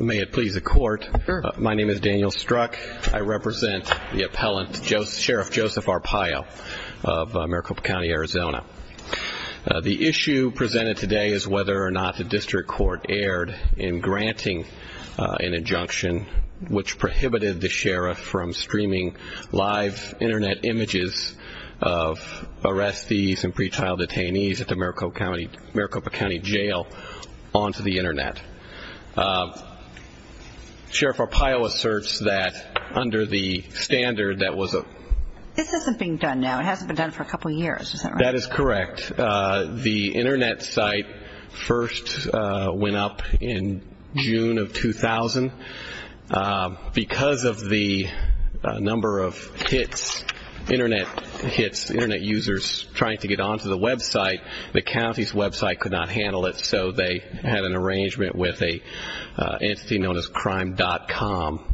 May it please the court, my name is Daniel Struck, I represent the appellant, Sheriff Joseph Arpaio of Maricopa County, Arizona. The issue presented today is whether or not the district court erred in granting an injunction which prohibited the sheriff from streaming live internet images of arrestees and pre-trial detainees at the Maricopa County Jail onto the internet. Sheriff Arpaio asserts that under the standard that was a... This isn't being done now, it hasn't been done for a couple of years, is that right? That is correct. The internet site first went up in June of 2000. Because of the number of hits, internet hits, internet users trying to get onto the website, the county's website could not handle it so they had an arrangement with an entity known as Crime.com.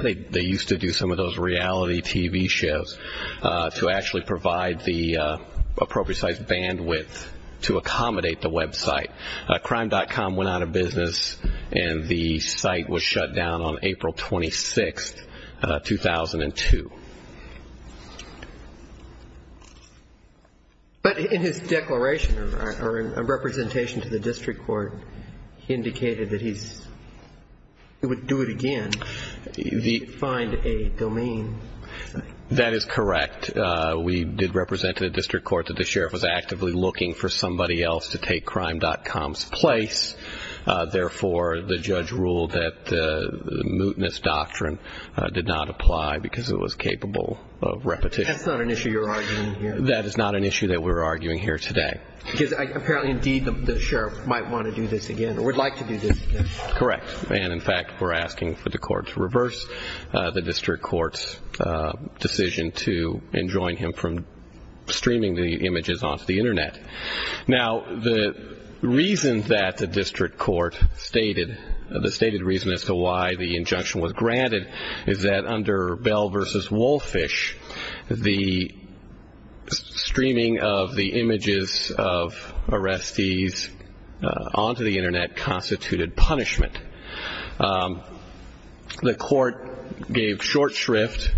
They used to do some of those reality TV shows to actually provide the appropriate size bandwidth to accommodate the website. Crime.com went out of business and the site was shut down on April 26, 2002. But in his declaration or in a representation to the district court, he indicated that he would do it again if he could find a domain. That is correct. We did represent to the district court that the sheriff was actively looking for somebody else to take Crime.com's place, therefore the judge ruled that the mootness doctrine did not apply because it was capable of repetition. That's not an issue you're arguing here. That is not an issue that we're arguing here today. Because apparently indeed the sheriff might want to do this again or would like to do this again. Correct. And in fact we're asking for the court to reverse the district court's decision to enjoin him from streaming the images onto the internet. Now the reason that the district court stated, the stated reason as to why the injunction was granted is that under Bell v. Wolfish, the streaming of the images of arrestees onto the internet constituted punishment. The court gave short shrift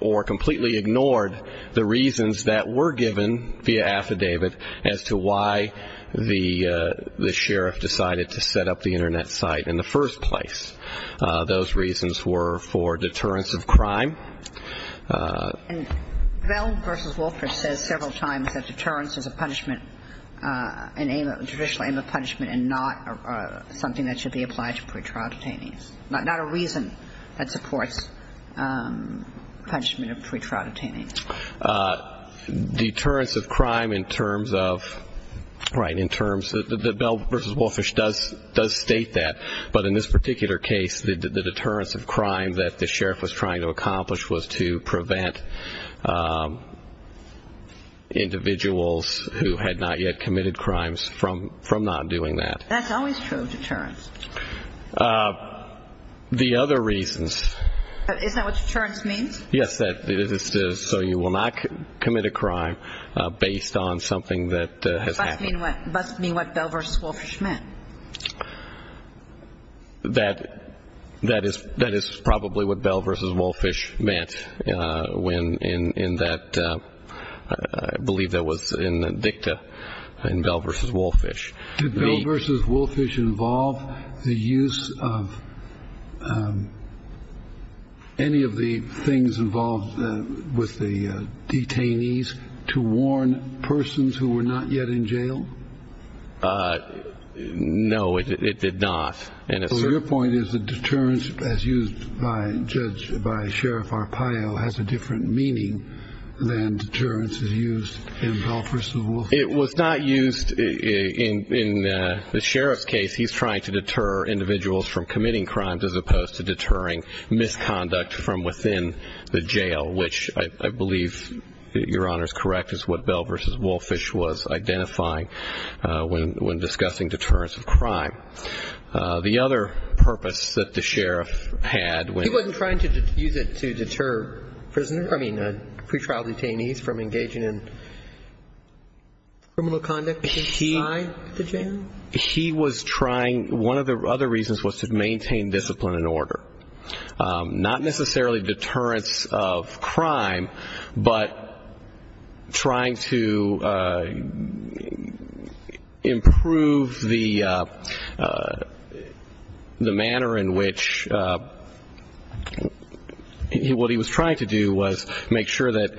or completely ignored the reasons that were given via affidavit as to why the sheriff decided to set up the internet site in the first place. Those reasons were for deterrence of crime. And Bell v. Wolfish says several times that deterrence is a punishment, a judicial aim of punishment and not something that should be applied to pretrial detainees. Not a reason that supports punishment of pretrial detainees. Deterrence of crime in terms of, right, in terms of, Bell v. Wolfish does state that. But in this particular case, the deterrence of crime that the sheriff was trying to accomplish was to prevent individuals who had not yet committed crimes from not doing that. That's always true of deterrence. The other reasons. Is that what deterrence means? Yes, it is. So you will not commit a crime based on something that has happened. Must mean what Bell v. Wolfish meant. That is probably what Bell v. Wolfish meant when in that, I believe that was in the dicta in Bell v. Wolfish. Did Bell v. Wolfish involve the use of any of the things involved with the detainees to warn persons who were not yet in jail? No, it did not. So your point is that deterrence as used by judge, by Sheriff Arpaio has a different meaning than deterrence is used in Bell v. Wolfish? It was not used in the sheriff's case. He's trying to deter individuals from committing crimes as opposed to deterring misconduct from within the jail, which I believe, Your Honor, is correct, is what Bell v. Wolfish was identifying when discussing deterrence of crime. The other purpose that the sheriff had when. He wasn't trying to use it to deter prisoners, I mean, pretrial detainees from engaging in criminal conduct inside the jail? He was trying. One of the other reasons was to maintain discipline and order. Not necessarily deterrence of crime, but trying to improve the manner in which what he was trying to do was make sure that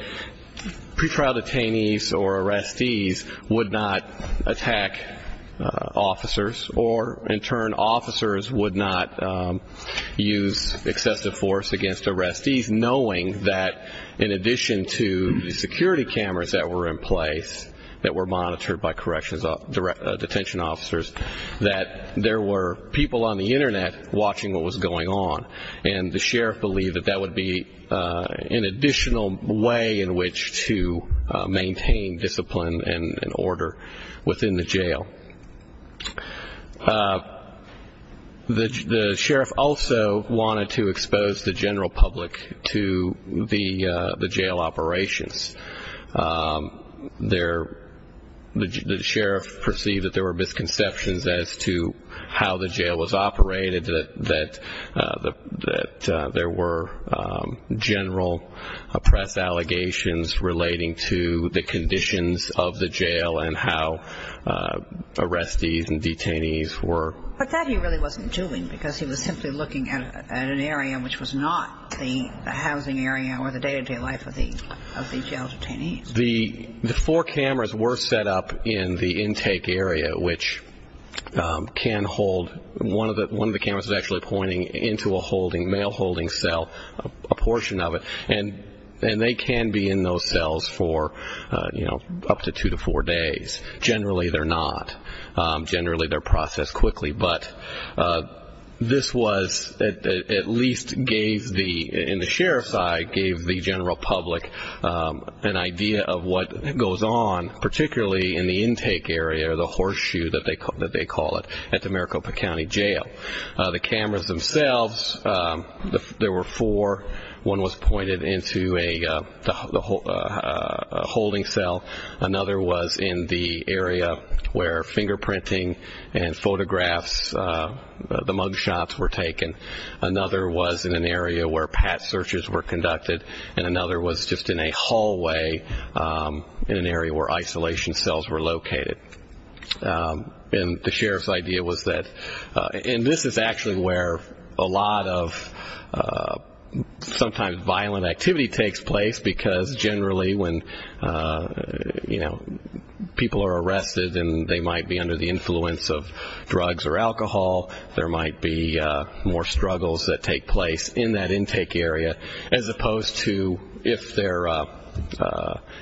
pretrial detainees or arrestees would not attack officers, or in turn, officers would not use excessive force against arrestees, knowing that in addition to the security cameras that were in place that were monitored by corrections, detention officers, that there were people on the Internet watching what was going on. And the sheriff believed that that would be an additional way in which to maintain discipline and order within the jail. The sheriff also wanted to expose the general public to the jail operations. The sheriff perceived that there were misconceptions as to how the jail was operated, that there were general press allegations relating to the conditions of the jail and how arrestees and detainees were. But that he really wasn't doing because he was simply looking at an area which was not the housing area or the day-to-day life of the jail detainees. The four cameras were set up in the intake area, which can hold one of the cameras is actually pointing into a holding, mail holding cell, a portion of it. And they can be in those cells for up to two to four days. Generally, they're not. Generally, they're processed quickly. But this was at least in the sheriff's eye gave the general public an idea of what goes on, particularly in the intake area or the horseshoe that they call it at the Maricopa County Jail. The cameras themselves, there were four. One was pointed into a holding cell. Another was in the area where fingerprinting and photographs, the mug shots were taken. Another was in an area where pat searches were conducted. And another was just in a hallway in an area where isolation cells were located. And the sheriff's idea was that, and this is actually where a lot of sometimes violent activity takes place because generally when, you know, people are arrested and they might be under the influence of drugs or alcohol, there might be more struggles that take place in that intake area, as opposed to if they're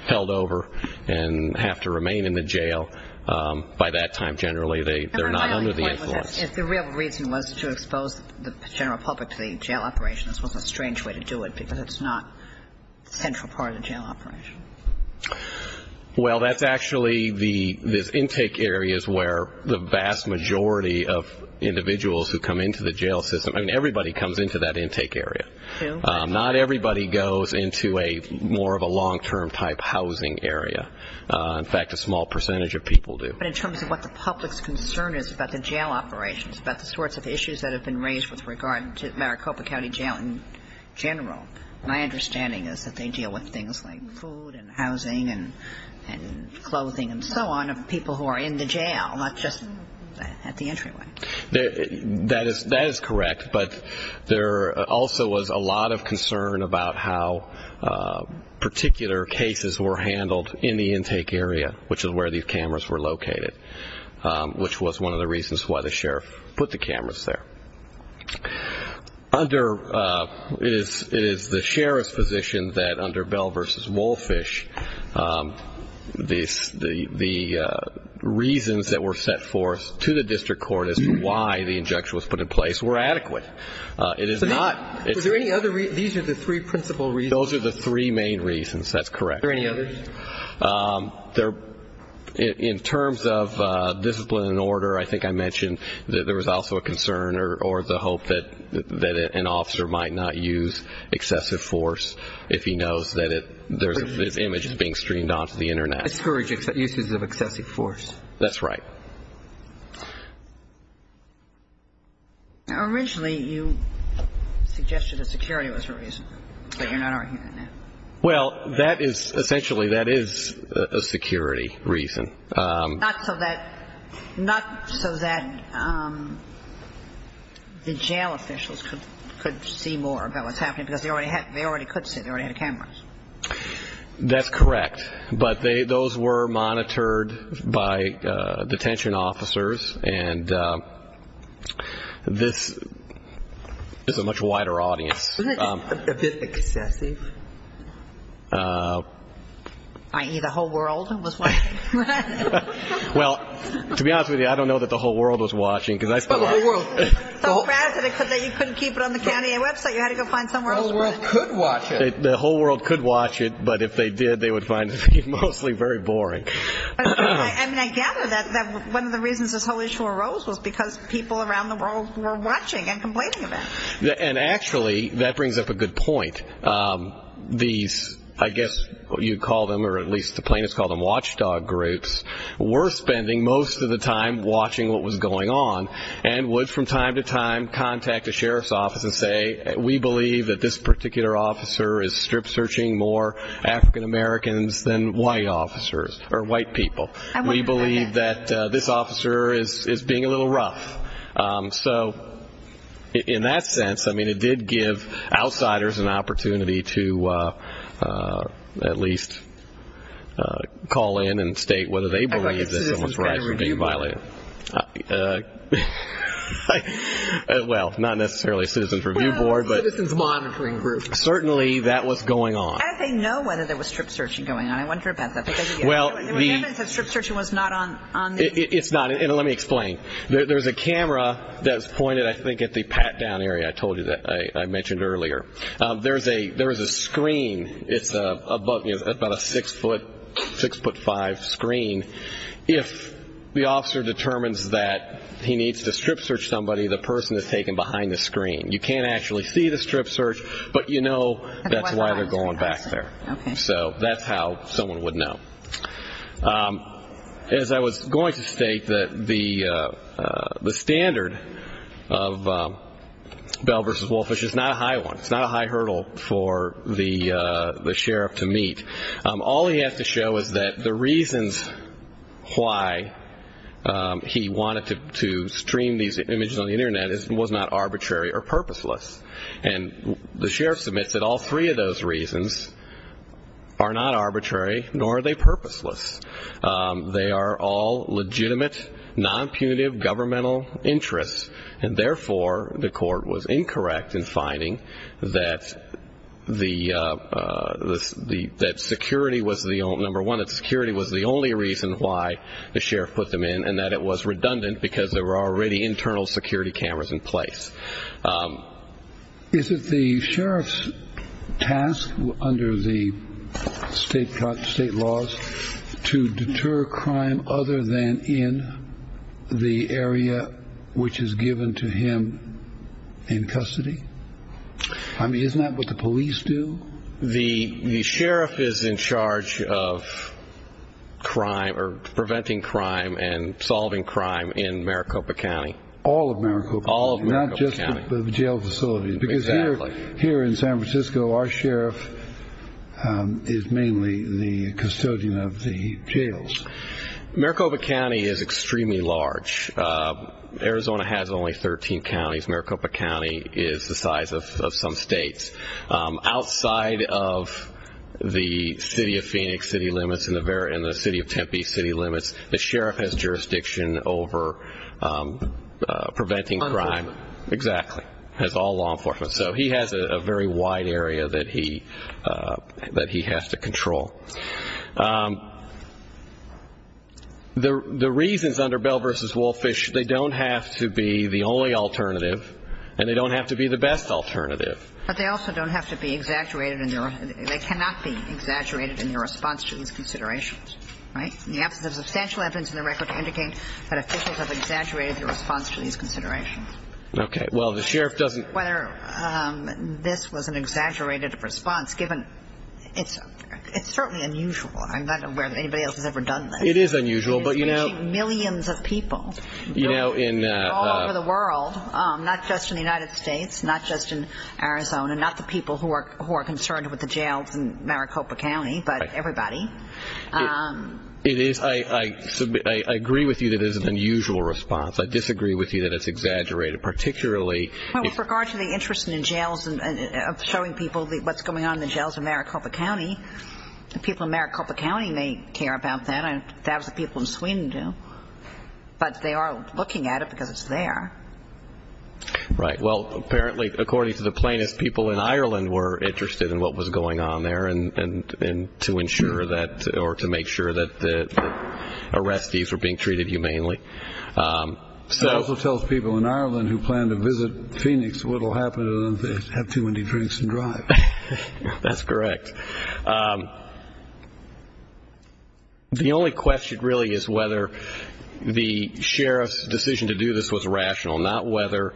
held over and have to remain in the jail. By that time, generally, they're not under the influence. If the real reason was to expose the general public to the jail operations, well, that's a strange way to do it because it's not a central part of the jail operation. Well, that's actually the intake areas where the vast majority of individuals who come into the jail system, I mean, everybody comes into that intake area. Not everybody goes into a more of a long-term type housing area. In fact, a small percentage of people do. But in terms of what the public's concern is about the jail operations, about the sorts of issues that have been raised with regard to Maricopa County Jail in general, my understanding is that they deal with things like food and housing and clothing and so on of people who are in the jail, not just at the entryway. That is correct. But there also was a lot of concern about how particular cases were handled in the intake area, which is where these cameras were located, which was one of the reasons why the sheriff put the cameras there. It is the sheriff's position that under Bell v. Wolfish, the reasons that were set forth to the district court as to why the injection was put in place were adequate. It is not. Are there any other reasons? These are the three principal reasons. Those are the three main reasons. That's correct. Are there any others? In terms of discipline and order, I think I mentioned that there was also a concern or the hope that an officer might not use excessive force if he knows that his image is being streamed onto the Internet. Discourage uses of excessive force. That's right. Now, originally you suggested that security was the reason, but you're not arguing that now. Well, essentially that is a security reason. Not so that the jail officials could see more about what's happening, because they already could see. They already had cameras. That's correct. But those were monitored by detention officers, and this is a much wider audience. Isn't that just a bit excessive? I.e., the whole world was watching? Well, to be honest with you, I don't know that the whole world was watching, because I still am. But the whole world could watch it. The whole world could watch it, but if they did, they would find it to be mostly very boring. I mean, I gather that one of the reasons this whole issue arose was because people around the world were watching and complaining of it. And actually that brings up a good point. These, I guess you'd call them, or at least the plaintiffs call them watchdog groups, were spending most of the time watching what was going on and would from time to time contact a sheriff's office and say, we believe that this particular officer is strip searching more African Americans than white officers or white people. We believe that this officer is being a little rough. So in that sense, I mean, it did give outsiders an opportunity to at least call in and state whether they believe that someone's rights were being violated. Well, not necessarily a citizen's review board, but certainly that was going on. How did they know whether there was strip searching going on? I wonder about that. Well, it's not, and let me explain. There's a camera that's pointed, I think, at the pat-down area I told you that I mentioned earlier. There's a screen. It's about a six-foot, six-foot-five screen. If the officer determines that he needs to strip search somebody, the person is taken behind the screen. You can't actually see the strip search, but you know that's why they're going back there. Okay. So that's how someone would know. As I was going to state, the standard of Bell v. Wolfish is not a high one. It's not a high hurdle for the sheriff to meet. All he has to show is that the reasons why he wanted to stream these images on the Internet was not arbitrary or purposeless. And the sheriff submits that all three of those reasons are not arbitrary, nor are they purposeless. They are all legitimate, non-punitive governmental interests, and therefore the court was incorrect in finding that, number one, that security was the only reason why the sheriff put them in and that it was redundant because there were already internal security cameras in place. Is it the sheriff's task under the state laws to deter crime other than in the area which is given to him in custody? I mean, isn't that what the police do? The sheriff is in charge of preventing crime and solving crime in Maricopa County. All of Maricopa County? All of Maricopa County. Not just the jail facilities? Exactly. Because here in San Francisco, our sheriff is mainly the custodian of the jails. Maricopa County is extremely large. Arizona has only 13 counties. Maricopa County is the size of some states. Outside of the city of Phoenix city limits and the city of Tempe city limits, the sheriff has jurisdiction over preventing crime. Law enforcement. Exactly. Has all law enforcement. So he has a very wide area that he has to control. The reasons under Bell v. Wolfish, they don't have to be the only alternative, and they don't have to be the best alternative. But they also don't have to be exaggerated. They cannot be exaggerated in their response to these considerations. Right? There's substantial evidence in the record to indicate that officials have exaggerated their response to these considerations. Okay. Well, the sheriff doesn't Whether this was an exaggerated response, given it's certainly unusual. I'm not aware that anybody else has ever done this. It is unusual, but you know It's reaching millions of people all over the world, not just in the United States, not just in Arizona, not the people who are concerned with the jails in Maricopa County, but everybody. It is. I agree with you that it is an unusual response. I disagree with you that it's exaggerated, particularly Well, with regard to the interest in jails and showing people what's going on in the jails in Maricopa County, the people in Maricopa County may care about that, and thousands of people in Sweden do. But they are looking at it because it's there. Right. Well, apparently, according to the plaintiffs, people in Ireland were interested in what was going on there and to ensure that or to make sure that the arrestees were being treated humanely. It also tells people in Ireland who plan to visit Phoenix what will happen to them if they have too many drinks and drive. That's correct. The only question really is whether the sheriff's decision to do this was rational, not whether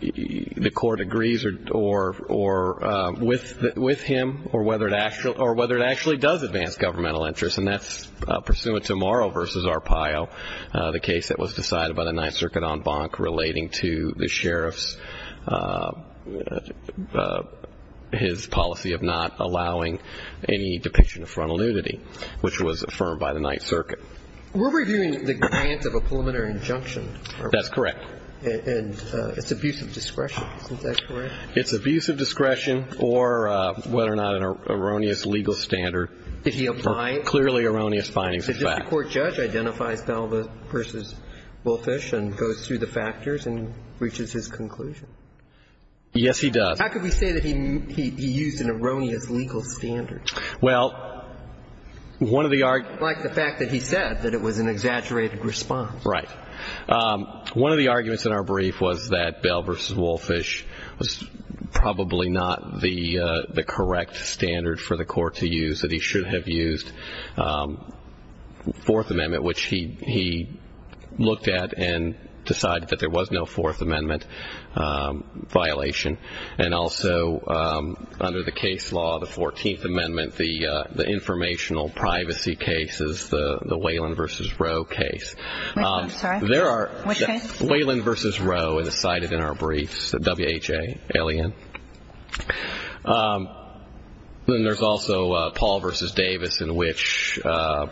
the court agrees with him or whether it actually does advance governmental interests. And that's pursuant to Morrow v. Arpaio, the case that was decided by the Ninth Circuit en banc relating to the sheriff's policy of not allowing any depiction of frontal nudity, which was affirmed by the Ninth Circuit. We're reviewing the grant of a preliminary injunction. That's correct. And it's abuse of discretion. Isn't that correct? It's abuse of discretion or whether or not an erroneous legal standard. Did he apply it? Clearly erroneous findings of fact. Does the court judge identify Belva v. Wolfish and goes through the factors and reaches his conclusion? Yes, he does. How can we say that he used an erroneous legal standard? Well, one of the arguments. Like the fact that he said that it was an exaggerated response. Right. One of the arguments in our brief was that Belva v. Wolfish was probably not the correct standard for the court to use, that he should have used Fourth Amendment, which he looked at and decided that there was no Fourth Amendment violation. And also under the case law, the 14th Amendment, the informational privacy case is the Whelan v. Roe case. Which case? Whelan v. Roe is cited in our briefs, the WHA alien. Then there's also Paul v. Davis in which an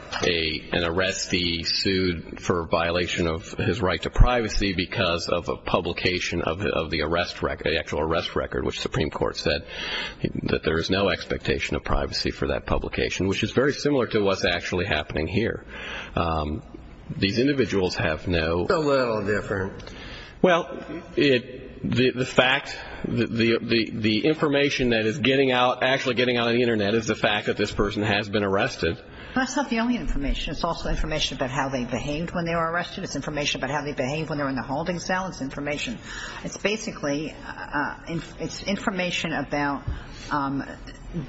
arrestee sued for violation of his right to privacy because of a publication of the arrest record, the actual arrest record, which the Supreme Court said that there is no expectation of privacy for that publication, which is very similar to what's actually happening here. These individuals have no. It's a little different. Well, the fact, the information that is getting out, actually getting out on the Internet is the fact that this person has been arrested. That's not the only information. It's also information about how they behaved when they were arrested. It's information about how they behaved when they were in the holding cell. It's information. It's basically, it's information about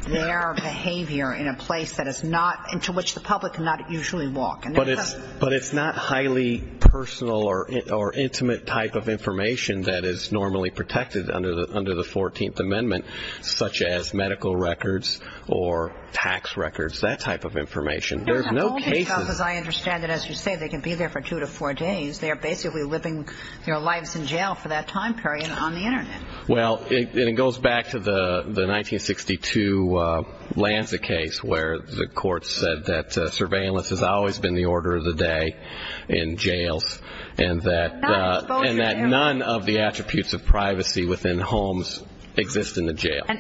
their behavior in a place that is not, into which the public cannot usually walk. But it's not highly personal or intimate type of information that is normally protected under the 14th Amendment, such as medical records or tax records, that type of information. There's no cases. As I understand it, as you say, they can be there for two to four days. They are basically living their lives in jail for that time period on the Internet. Well, it goes back to the 1962 Lanza case where the court said that surveillance has always been the order of the day in jails and that none of the attributes of privacy within homes exist in the jail. And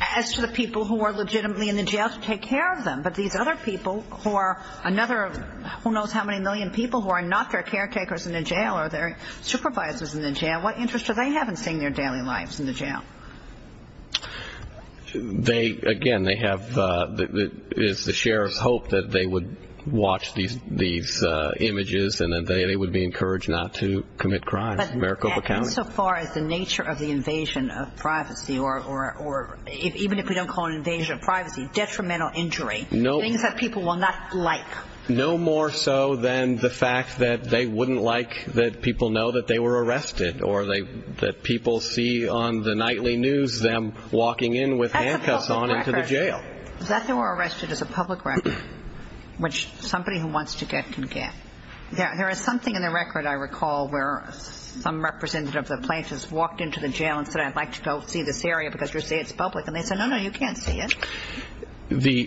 as to the people who are legitimately in the jail to take care of them, but these other people who are another who knows how many million people who are not their caretakers in the jail or their supervisors in the jail, what interest do they have in seeing their daily lives in the jail? Again, they have the sheriff's hope that they would watch these images and that they would be encouraged not to commit crimes in Maricopa County. But insofar as the nature of the invasion of privacy, or even if we don't call it an invasion of privacy, detrimental injury, things that people will not like. No more so than the fact that they wouldn't like that people know that they were arrested or that people see on the nightly news them walking in with handcuffs on into the jail. That they were arrested is a public record, which somebody who wants to get can get. There is something in the record, I recall, where some representative of the plaintiffs walked into the jail and said, I'd like to go see this area because you say it's public. And they said, no, no, you can't see it.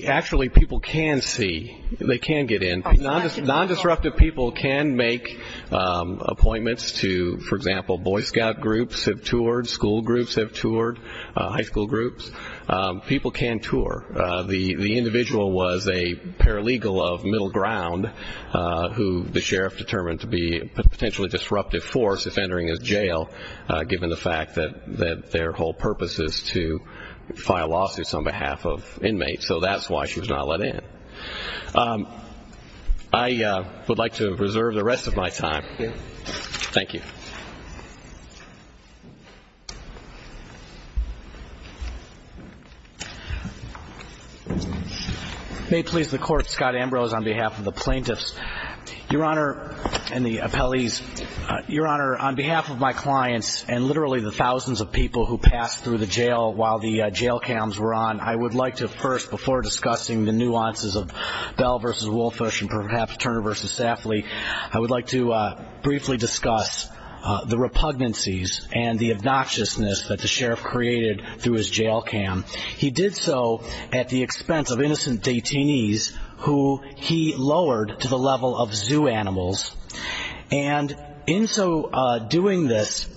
Actually, people can see. They can get in. Non-disruptive people can make appointments to, for example, Boy Scout groups have toured, school groups have toured, high school groups. People can tour. The individual was a paralegal of Middle Ground, who the sheriff determined to be a potentially disruptive force if entering his jail, given the fact that their whole purpose is to file lawsuits on behalf of inmates. So that's why she was not let in. I would like to reserve the rest of my time. Thank you. May it please the Court, Scott Ambrose on behalf of the plaintiffs and the appellees. Your Honor, on behalf of my clients and literally the thousands of people who passed through the jail while the jail cams were on, I would like to first, before discussing the nuances of Bell v. Wolfish and perhaps Turner v. Safley, I would like to briefly discuss the repugnancies and the obnoxiousness that the sheriff created through his jail cam. He did so at the expense of innocent detainees who he lowered to the level of zoo animals. And in so doing this,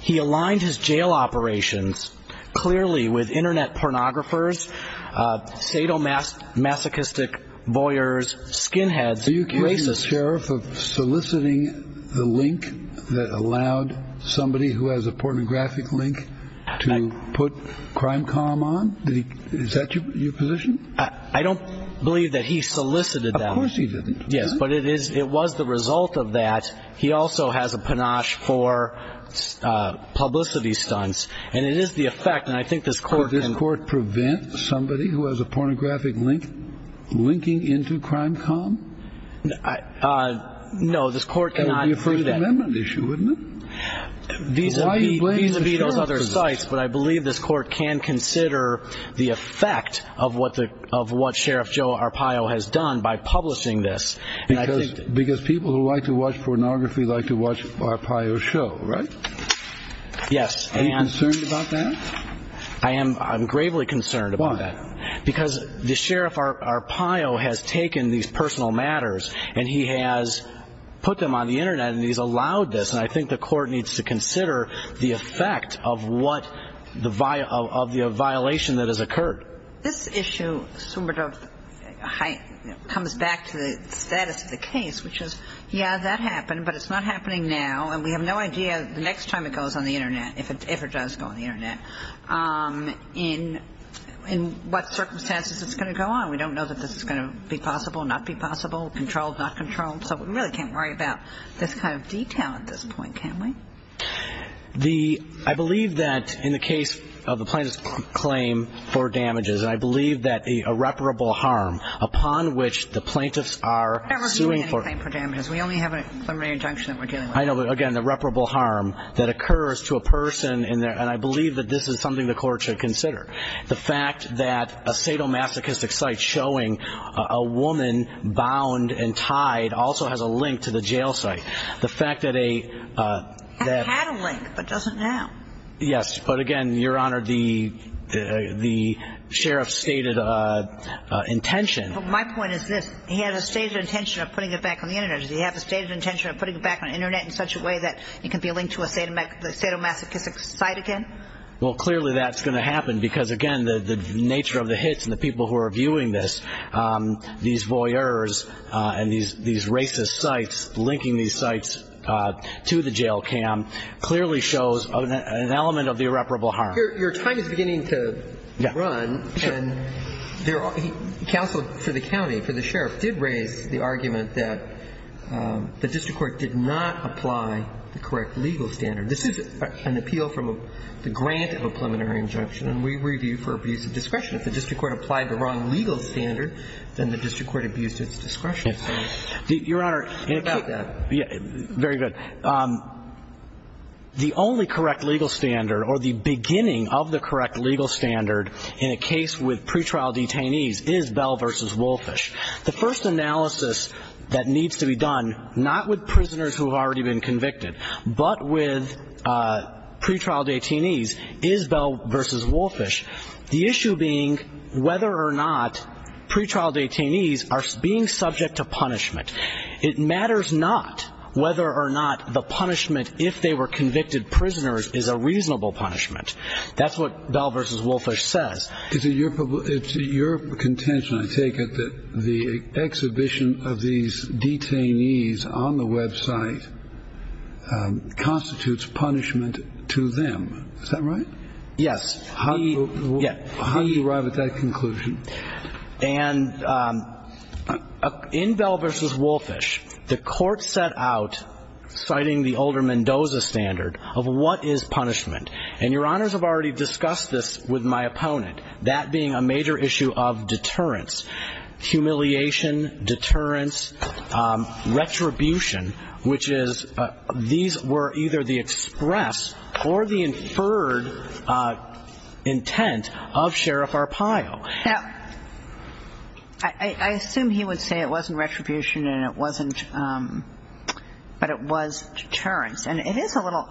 he aligned his jail operations clearly with Internet pornographers, sadomasochistic voyeurs, skinheads, racists. Are you accusing the sheriff of soliciting the link that allowed somebody who has a pornographic link to put Crime.com on? Is that your position? I don't believe that he solicited them. Of course he didn't. Yes, but it was the result of that. He also has a panache for publicity stunts. And it is the effect, and I think this Court can- Would this Court prevent somebody who has a pornographic link linking into Crime.com? No, this Court cannot- That would be a First Amendment issue, wouldn't it? Why are you blaming the sheriff for this? Because people who like to watch pornography like to watch Arpaio's show, right? Yes. Are you concerned about that? I am gravely concerned about that. Why? Because the sheriff, Arpaio, has taken these personal matters, and he has put them on the Internet, and he's allowed this. And I think the Court needs to consider the effect of the violation that has occurred. This issue comes back to the status of the case, which is, yeah, that happened, but it's not happening now, and we have no idea the next time it goes on the Internet, if it ever does go on the Internet, in what circumstances it's going to go on. We don't know that this is going to be possible, not be possible, controlled, not controlled. So we really can't worry about this kind of detail at this point, can we? I believe that in the case of the plaintiff's claim for damages, and I believe that the irreparable harm upon which the plaintiffs are suing for damages. We only have a preliminary injunction that we're dealing with. I know, but again, the irreparable harm that occurs to a person, and I believe that this is something the Court should consider. The fact that a sadomasochistic site showing a woman bound and tied also has a link to the jail site. It had a link, but doesn't now. Yes, but again, Your Honor, the sheriff's stated intention. My point is this. He has a stated intention of putting it back on the Internet. Does he have a stated intention of putting it back on the Internet in such a way that it can be linked to a sadomasochistic site again? Well, clearly that's going to happen because, again, the nature of the hits and the people who are viewing this, these voyeurs and these racist sites, linking these sites to the jail cam, clearly shows an element of the irreparable harm. Your time is beginning to run, and counsel for the county, for the sheriff, did raise the argument that the district court did not apply the correct legal standard. This is an appeal from the grant of a preliminary injunction, and we review for abuse of discretion. If the district court applied the wrong legal standard, then the district court abused its discretion. Your Honor. How about that? Very good. The only correct legal standard or the beginning of the correct legal standard in a case with pretrial detainees is Bell v. Wolfish. The first analysis that needs to be done, not with prisoners who have already been convicted, but with pretrial detainees is Bell v. Wolfish, the issue being whether or not pretrial detainees are being subject to punishment. It matters not whether or not the punishment, if they were convicted prisoners, is a reasonable punishment. That's what Bell v. Wolfish says. It's your contention, I take it, that the exhibition of these detainees on the Web site constitutes punishment to them. Is that right? Yes. How do you arrive at that conclusion? And in Bell v. Wolfish, the Court set out, citing the older Mendoza standard, of what is punishment. And Your Honors have already discussed this with my opponent, that being a major issue of deterrence, humiliation, deterrence, retribution, which is these were either the express or the inferred intent of Sheriff Arpaio. Now, I assume he would say it wasn't retribution and it wasn't, but it was deterrence. And it is a little,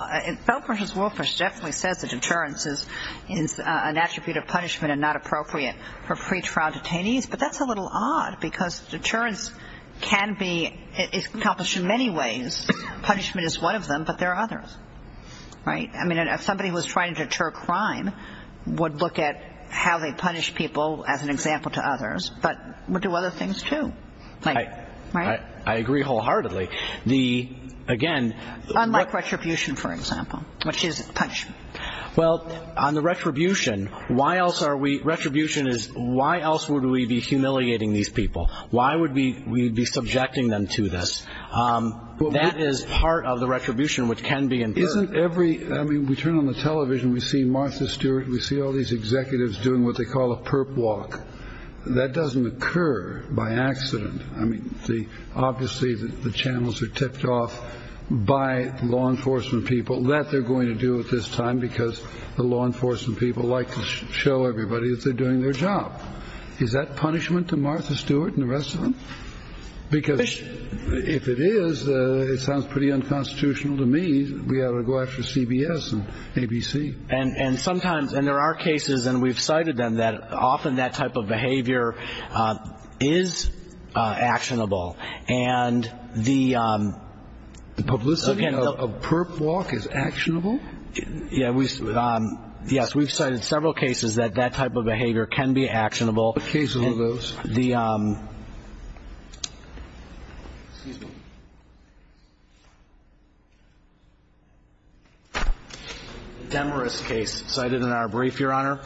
Bell v. Wolfish definitely says that deterrence is an attribute of punishment and not appropriate for pretrial detainees, but that's a little odd because deterrence can be accomplished in many ways. Punishment is one of them, but there are others. Right? I mean, if somebody was trying to deter crime, would look at how they punish people as an example to others, but would do other things, too. Right? I agree wholeheartedly. The, again, Unlike retribution, for example, which is punishment. Well, on the retribution, why else are we, retribution is why else would we be humiliating these people? Why would we be subjecting them to this? That is part of the retribution which can be inferred. Isn't every I mean, we turn on the television. We see Martha Stewart. We see all these executives doing what they call a perp walk. That doesn't occur by accident. I mean, the obviously the channels are tipped off by law enforcement people that they're going to do at this time, because the law enforcement people like to show everybody that they're doing their job. Is that punishment to Martha Stewart and the rest of them? Because if it is, it sounds pretty unconstitutional to me. We ought to go after CBS and ABC. And sometimes and there are cases and we've cited them that often that type of behavior is actionable. And the publicity of a perp walk is actionable. Yeah. Yes. We've cited several cases that that type of behavior can be actionable. Occasional of those. The Demarest case cited in our brief, Your Honor.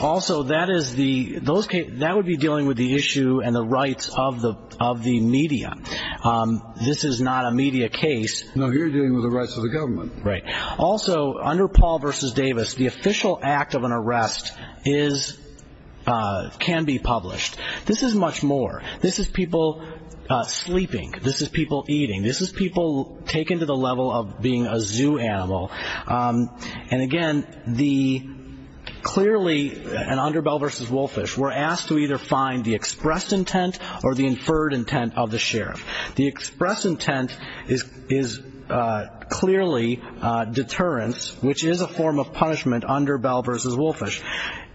Also, that is the those that would be dealing with the issue and the rights of the media. This is not a media case. No, you're dealing with the rights of the government. Right. Also, under Paul v. Davis, the official act of an arrest is can be published. This is much more. This is people sleeping. This is people eating. This is people taken to the level of being a zoo animal. And, again, the clearly and under Bell v. Wolfish were asked to either find the expressed intent or the inferred intent of the sheriff. The express intent is clearly deterrence, which is a form of punishment under Bell v. Wolfish.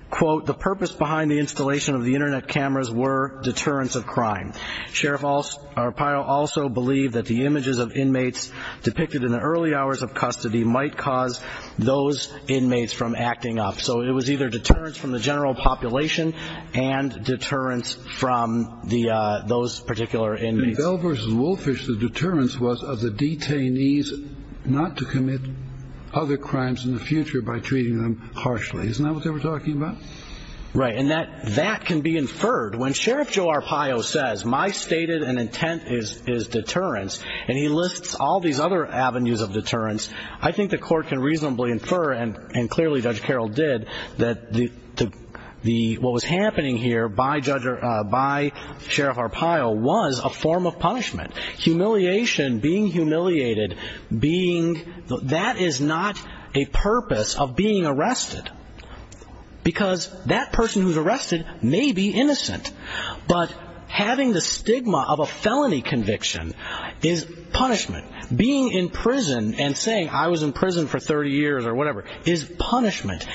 Quote, the purpose behind the installation of the Internet cameras were deterrence of crime. Sheriff Arpaio also believed that the images of inmates depicted in the early hours of custody might cause those inmates from acting up. So it was either deterrence from the general population and deterrence from those particular inmates. In Bell v. Wolfish, the deterrence was of the detainees not to commit other crimes in the future by treating them harshly. Isn't that what they were talking about? Right. And that can be inferred. When Sheriff Joe Arpaio says my stated intent is deterrence and he lists all these other avenues of deterrence, I think the court can reasonably infer, and clearly Judge Carroll did, that what was happening here by Sheriff Arpaio was a form of punishment. Humiliation, being humiliated, that is not a purpose of being arrested because that person who's arrested may be innocent. But having the stigma of a felony conviction is punishment. Being in prison and saying I was in prison for 30 years or whatever is punishment.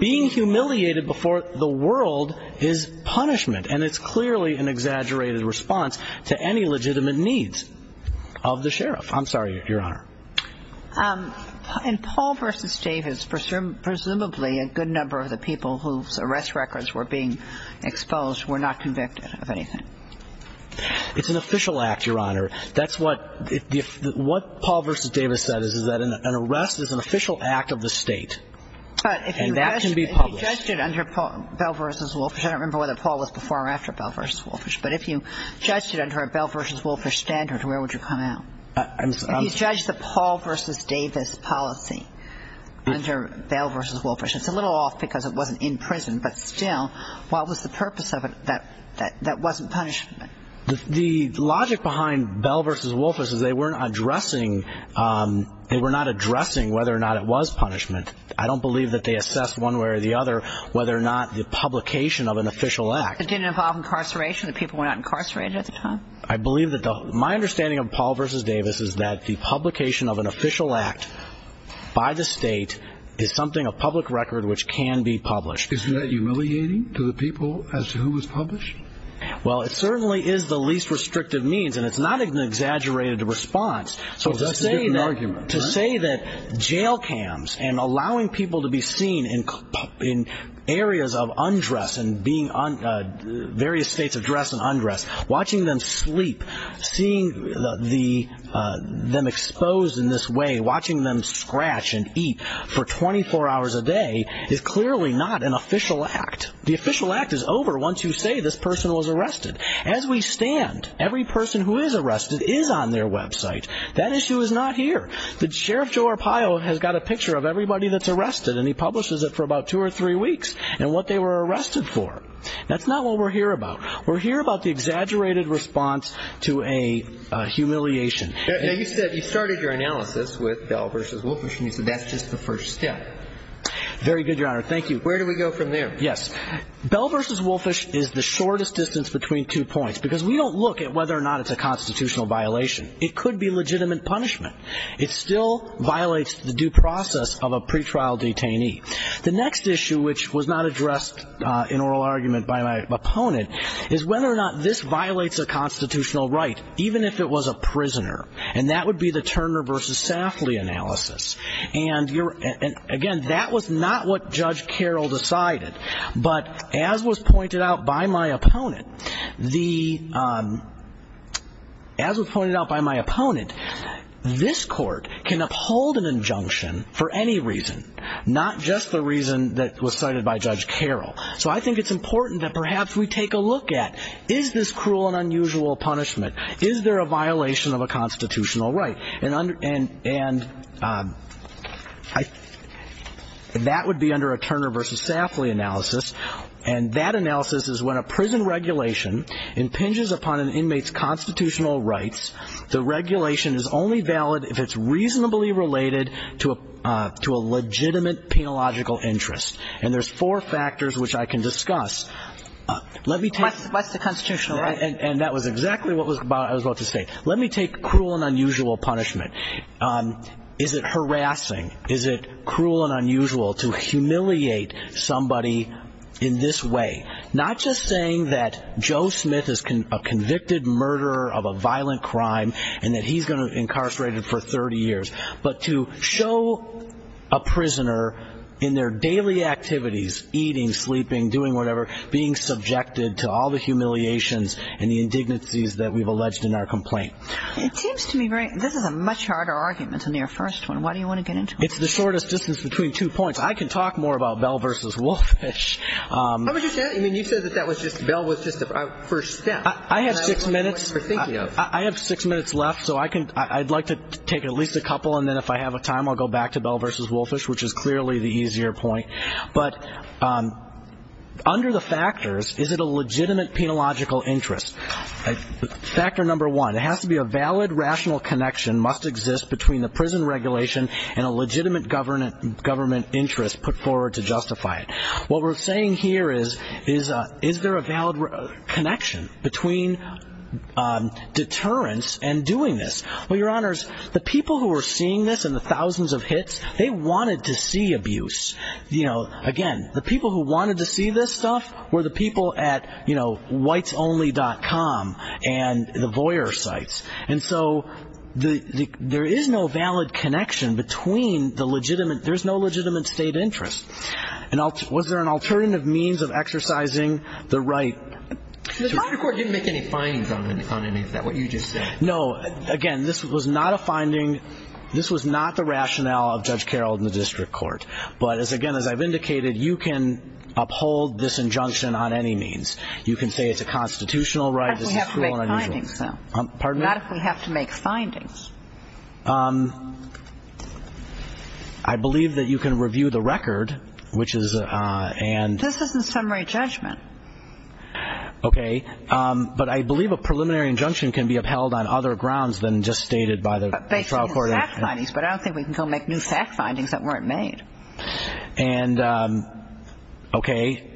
Being humiliated before the world is punishment, and it's clearly an exaggerated response to any legitimate needs of the sheriff. I'm sorry, Your Honor. In Paul v. Davis, presumably a good number of the people whose arrest records were being exposed were not convicted of anything. It's an official act, Your Honor. That's what Paul v. Davis said is that an arrest is an official act of the state. And that can be published. But if you judged it under Bell v. Wolfish, I don't remember whether Paul was before or after Bell v. Wolfish, but if you judged it under a Bell v. Wolfish standard, where would you come out? If you judged the Paul v. Davis policy under Bell v. Wolfish, it's a little off because it wasn't in prison, but still, what was the purpose of it that wasn't punishment? The logic behind Bell v. Wolfish is they were not addressing whether or not it was punishment. I don't believe that they assessed one way or the other whether or not the publication of an official act. It didn't involve incarceration? The people were not incarcerated at the time? My understanding of Paul v. Davis is that the publication of an official act by the state is something, a public record, which can be published. Isn't that humiliating to the people as to who was published? Well, it certainly is the least restrictive means, and it's not an exaggerated response. So to say that jail cams and allowing people to be seen in areas of undress, various states of dress and undress, watching them sleep, seeing them exposed in this way, watching them scratch and eat for 24 hours a day, is clearly not an official act. The official act is over once you say this person was arrested. As we stand, every person who is arrested is on their website. That issue is not here. Sheriff Joe Arpaio has got a picture of everybody that's arrested, and he publishes it for about two or three weeks, and what they were arrested for. That's not what we're here about. We're here about the exaggerated response to a humiliation. Now, you said you started your analysis with Bell v. Wolfish, and you said that's just the first step. Very good, Your Honor. Thank you. Where do we go from there? Yes. Bell v. Wolfish is the shortest distance between two points, because we don't look at whether or not it's a constitutional violation. It could be legitimate punishment. It still violates the due process of a pretrial detainee. The next issue, which was not addressed in oral argument by my opponent, is whether or not this violates a constitutional right, even if it was a prisoner, and that would be the Turner v. Safley analysis. And, again, that was not what Judge Carroll decided. But as was pointed out by my opponent, this court can uphold an injunction for any reason, not just the reason that was cited by Judge Carroll. So I think it's important that perhaps we take a look at, is this cruel and unusual punishment? Is there a violation of a constitutional right? And that would be under a Turner v. Safley analysis, and that analysis is when a prison regulation impinges upon an inmate's constitutional rights, the regulation is only valid if it's reasonably related to a legitimate penological interest. And there's four factors which I can discuss. What's the constitutional right? And that was exactly what I was about to say. Let me take cruel and unusual punishment. Is it harassing? Is it cruel and unusual to humiliate somebody in this way, not just saying that Joe Smith is a convicted murderer of a violent crime and that he's going to be incarcerated for 30 years, but to show a prisoner in their daily activities, eating, sleeping, doing whatever, being subjected to all the humiliations and the indignities that we've alleged in our complaint? It seems to me this is a much harder argument than your first one. Why do you want to get into it? It's the shortest distance between two points. I can talk more about Bell v. Wolfish. How would you say that? I mean, you said that Bell was just a first step. I have six minutes. I have six minutes left, so I'd like to take at least a couple, and then if I have time I'll go back to Bell v. Wolfish, which is clearly the easier point. But under the factors, is it a legitimate penological interest? Factor number one, it has to be a valid rational connection must exist between the prison regulation and a legitimate government interest put forward to justify it. What we're saying here is, is there a valid connection between deterrence and doing this? Well, Your Honors, the people who are seeing this and the thousands of hits, they wanted to see abuse. Again, the people who wanted to see this stuff were the people at whitesonly.com and the voyeur sites. And so there is no valid connection between the legitimate, there's no legitimate state interest. Was there an alternative means of exercising the right? The private court didn't make any findings on any of that, what you just said. No. Again, this was not a finding. This was not the rationale of Judge Carroll in the district court. But, again, as I've indicated, you can uphold this injunction on any means. You can say it's a constitutional right. Not if we have to make findings, though. Pardon me? Not if we have to make findings. I believe that you can review the record, which is and... This is a summary judgment. Okay. But I believe a preliminary injunction can be upheld on other grounds than just stated by the trial court. Based on the fact findings, but I don't think we can go make new fact findings that weren't made. And, okay,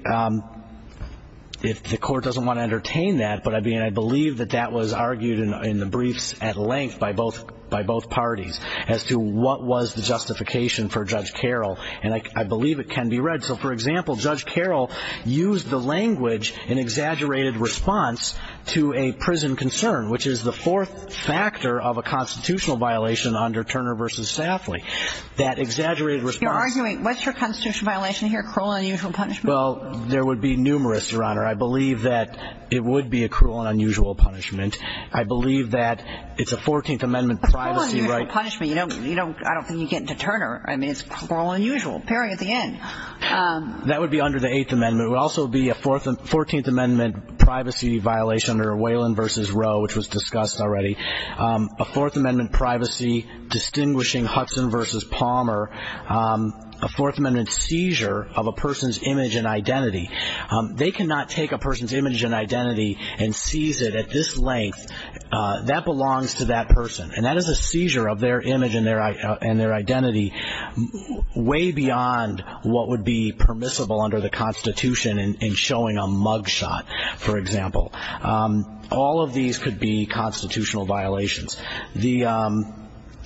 if the court doesn't want to entertain that, but I believe that that was argued in the briefs at length by both parties as to what was the justification for Judge Carroll. And I believe it can be read. So, for example, Judge Carroll used the language in exaggerated response to a prison concern, which is the fourth factor of a constitutional violation under Turner v. Safley. That exaggerated response... You're arguing what's your constitutional violation here, cruel and unusual punishment? Well, there would be numerous, Your Honor. I believe that it would be a cruel and unusual punishment. I believe that it's a 14th Amendment privacy right... A cruel and unusual punishment. You don't... I don't think you get into Turner. I mean, it's cruel and unusual, period, at the end. That would be under the Eighth Amendment. It would also be a 14th Amendment privacy violation under Whalen v. Roe, which was discussed already. A Fourth Amendment privacy distinguishing Hudson v. Palmer. A Fourth Amendment seizure of a person's image and identity. They cannot take a person's image and identity and seize it at this length. That belongs to that person. And that is a seizure of their image and their identity way beyond what would be permissible under the Constitution in showing a mug shot, for example. All of these could be constitutional violations.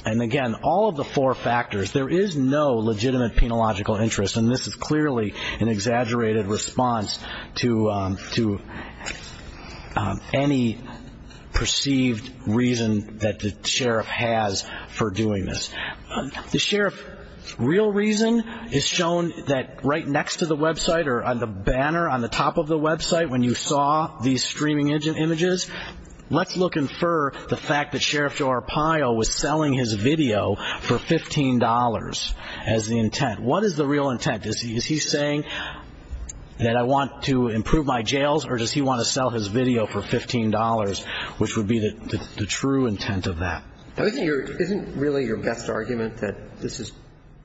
And, again, all of the four factors. There is no legitimate penological interest, and this is clearly an exaggerated response to any perceived reason that the sheriff has for doing this. The sheriff's real reason is shown right next to the website or on the banner on the top of the website when you saw these streaming images. Let's look and infer the fact that Sheriff Joe Arpaio was selling his video for $15 as the intent. What is the real intent? Is he saying that I want to improve my jails, or does he want to sell his video for $15, which would be the true intent of that? Isn't really your best argument that this is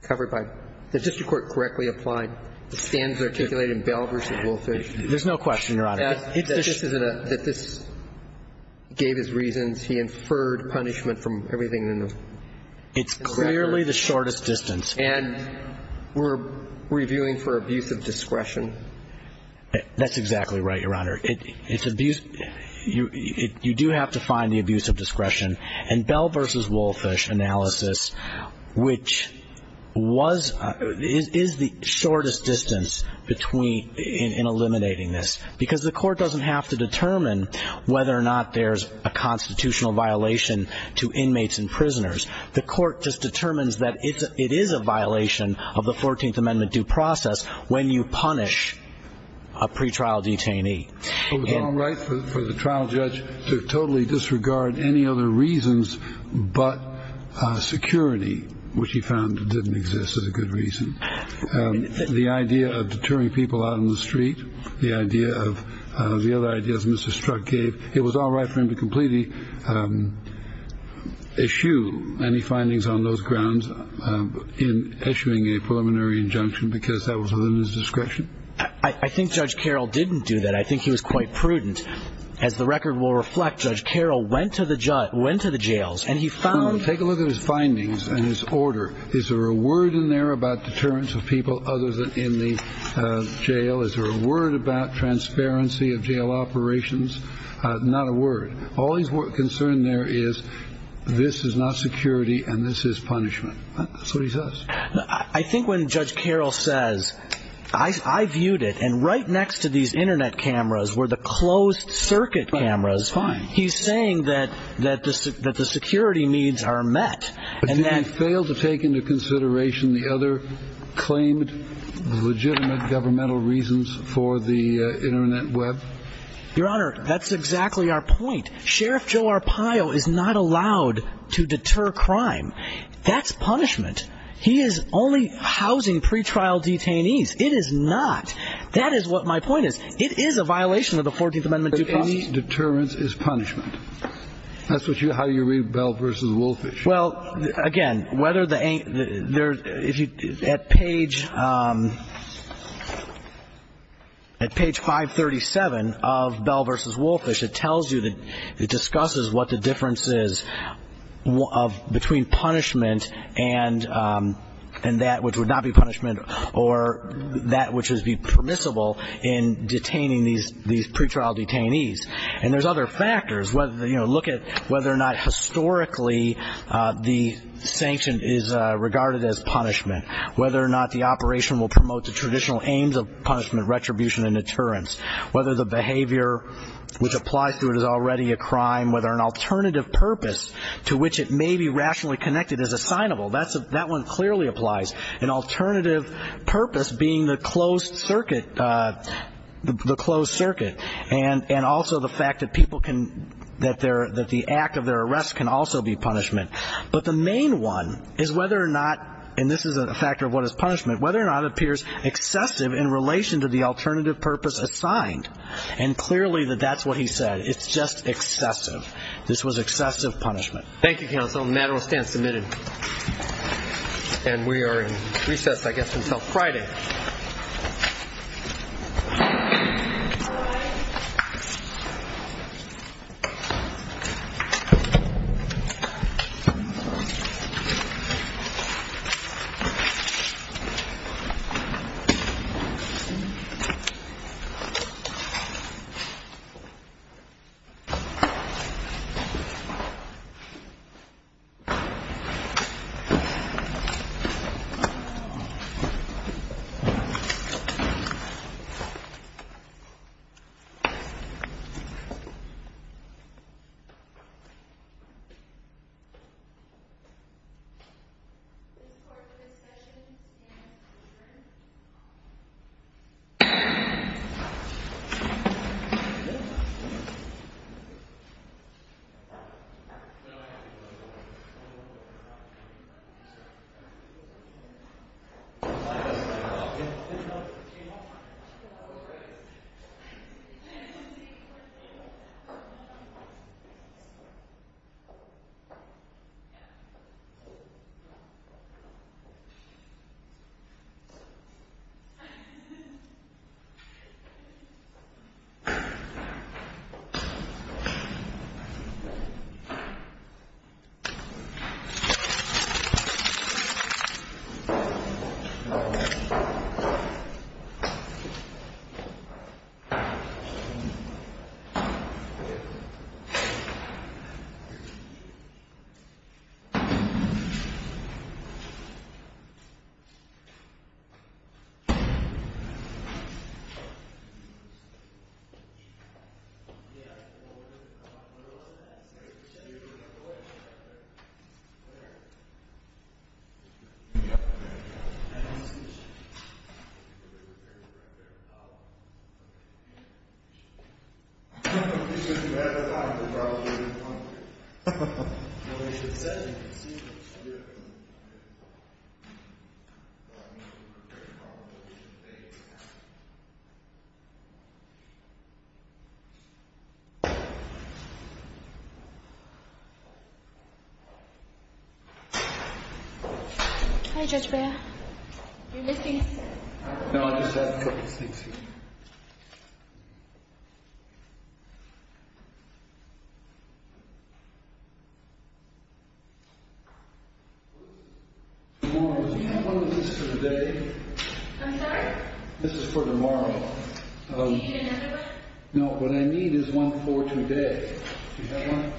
covered by the district court correctly to stand for articulating Bell versus Woolfish? There's no question, Your Honor. That this gave his reasons. He inferred punishment from everything in the district court. It's clearly the shortest distance. And we're reviewing for abuse of discretion. That's exactly right, Your Honor. It's abuse. You do have to find the abuse of discretion. And Bell versus Woolfish analysis, which is the shortest distance in eliminating this, because the court doesn't have to determine whether or not there's a constitutional violation to inmates and prisoners. The court just determines that it is a violation of the 14th Amendment due process when you punish a pretrial detainee. It was all right for the trial judge to totally disregard any other reasons but security, which he found didn't exist as a good reason. The idea of deterring people out on the street, the other ideas Mr. Strzok gave, it was all right for him to completely eschew any findings on those grounds in eschewing a preliminary injunction because that was within his discretion. I think Judge Carroll didn't do that. I think he was quite prudent. As the record will reflect, Judge Carroll went to the jails and he found – Take a look at his findings and his order. Is there a word in there about deterrence of people other than in the jail? Is there a word about transparency of jail operations? Not a word. All he's concerned there is this is not security and this is punishment. That's what he says. I think when Judge Carroll says, I viewed it and right next to these Internet cameras were the closed circuit cameras, he's saying that the security needs are met. But did he fail to take into consideration the other claimed legitimate governmental reasons for the Internet web? Your Honor, that's exactly our point. Sheriff Joe Arpaio is not allowed to deter crime. That's punishment. He is only housing pretrial detainees. It is not. That is what my point is. It is a violation of the 14th Amendment due process. But any deterrence is punishment. That's how you read Bell v. Wolfish. Well, again, whether the – at page 537 of Bell v. Wolfish, it tells you that it discusses what the difference is between punishment and that which would not be punishment or that which would be permissible in detaining these pretrial detainees. And there's other factors. Look at whether or not historically the sanction is regarded as punishment, whether or not the operation will promote the traditional aims of punishment, retribution and deterrence, whether the behavior which applies to it is already a crime, whether an alternative purpose to which it may be rationally connected is assignable. That one clearly applies. An alternative purpose being the closed circuit and also the fact that people can – that the act of their arrest can also be punishment. But the main one is whether or not – and this is a factor of what is punishment – whether or not it appears excessive in relation to the alternative purpose assigned. And clearly that that's what he said. It's just excessive. This was excessive punishment. Thank you, counsel. The matter will stand submitted. And we are in recess, I guess, until Friday. Thank you. Thank you. Thank you. Thank you. Thank you. Thank you. Hi, Judge Beyer. You're missing. No, I just have a couple of things here. Tomorrow is one of the dates for the day. I'm sorry? This is for tomorrow. Do you need another one? No, what I need is one for today. Do you have one?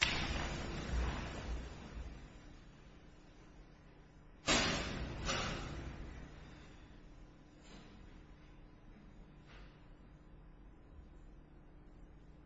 Thanks. Thank you. Thank you. Thank you. Thank you. Thank you. Thank you. Thank you. Thank you.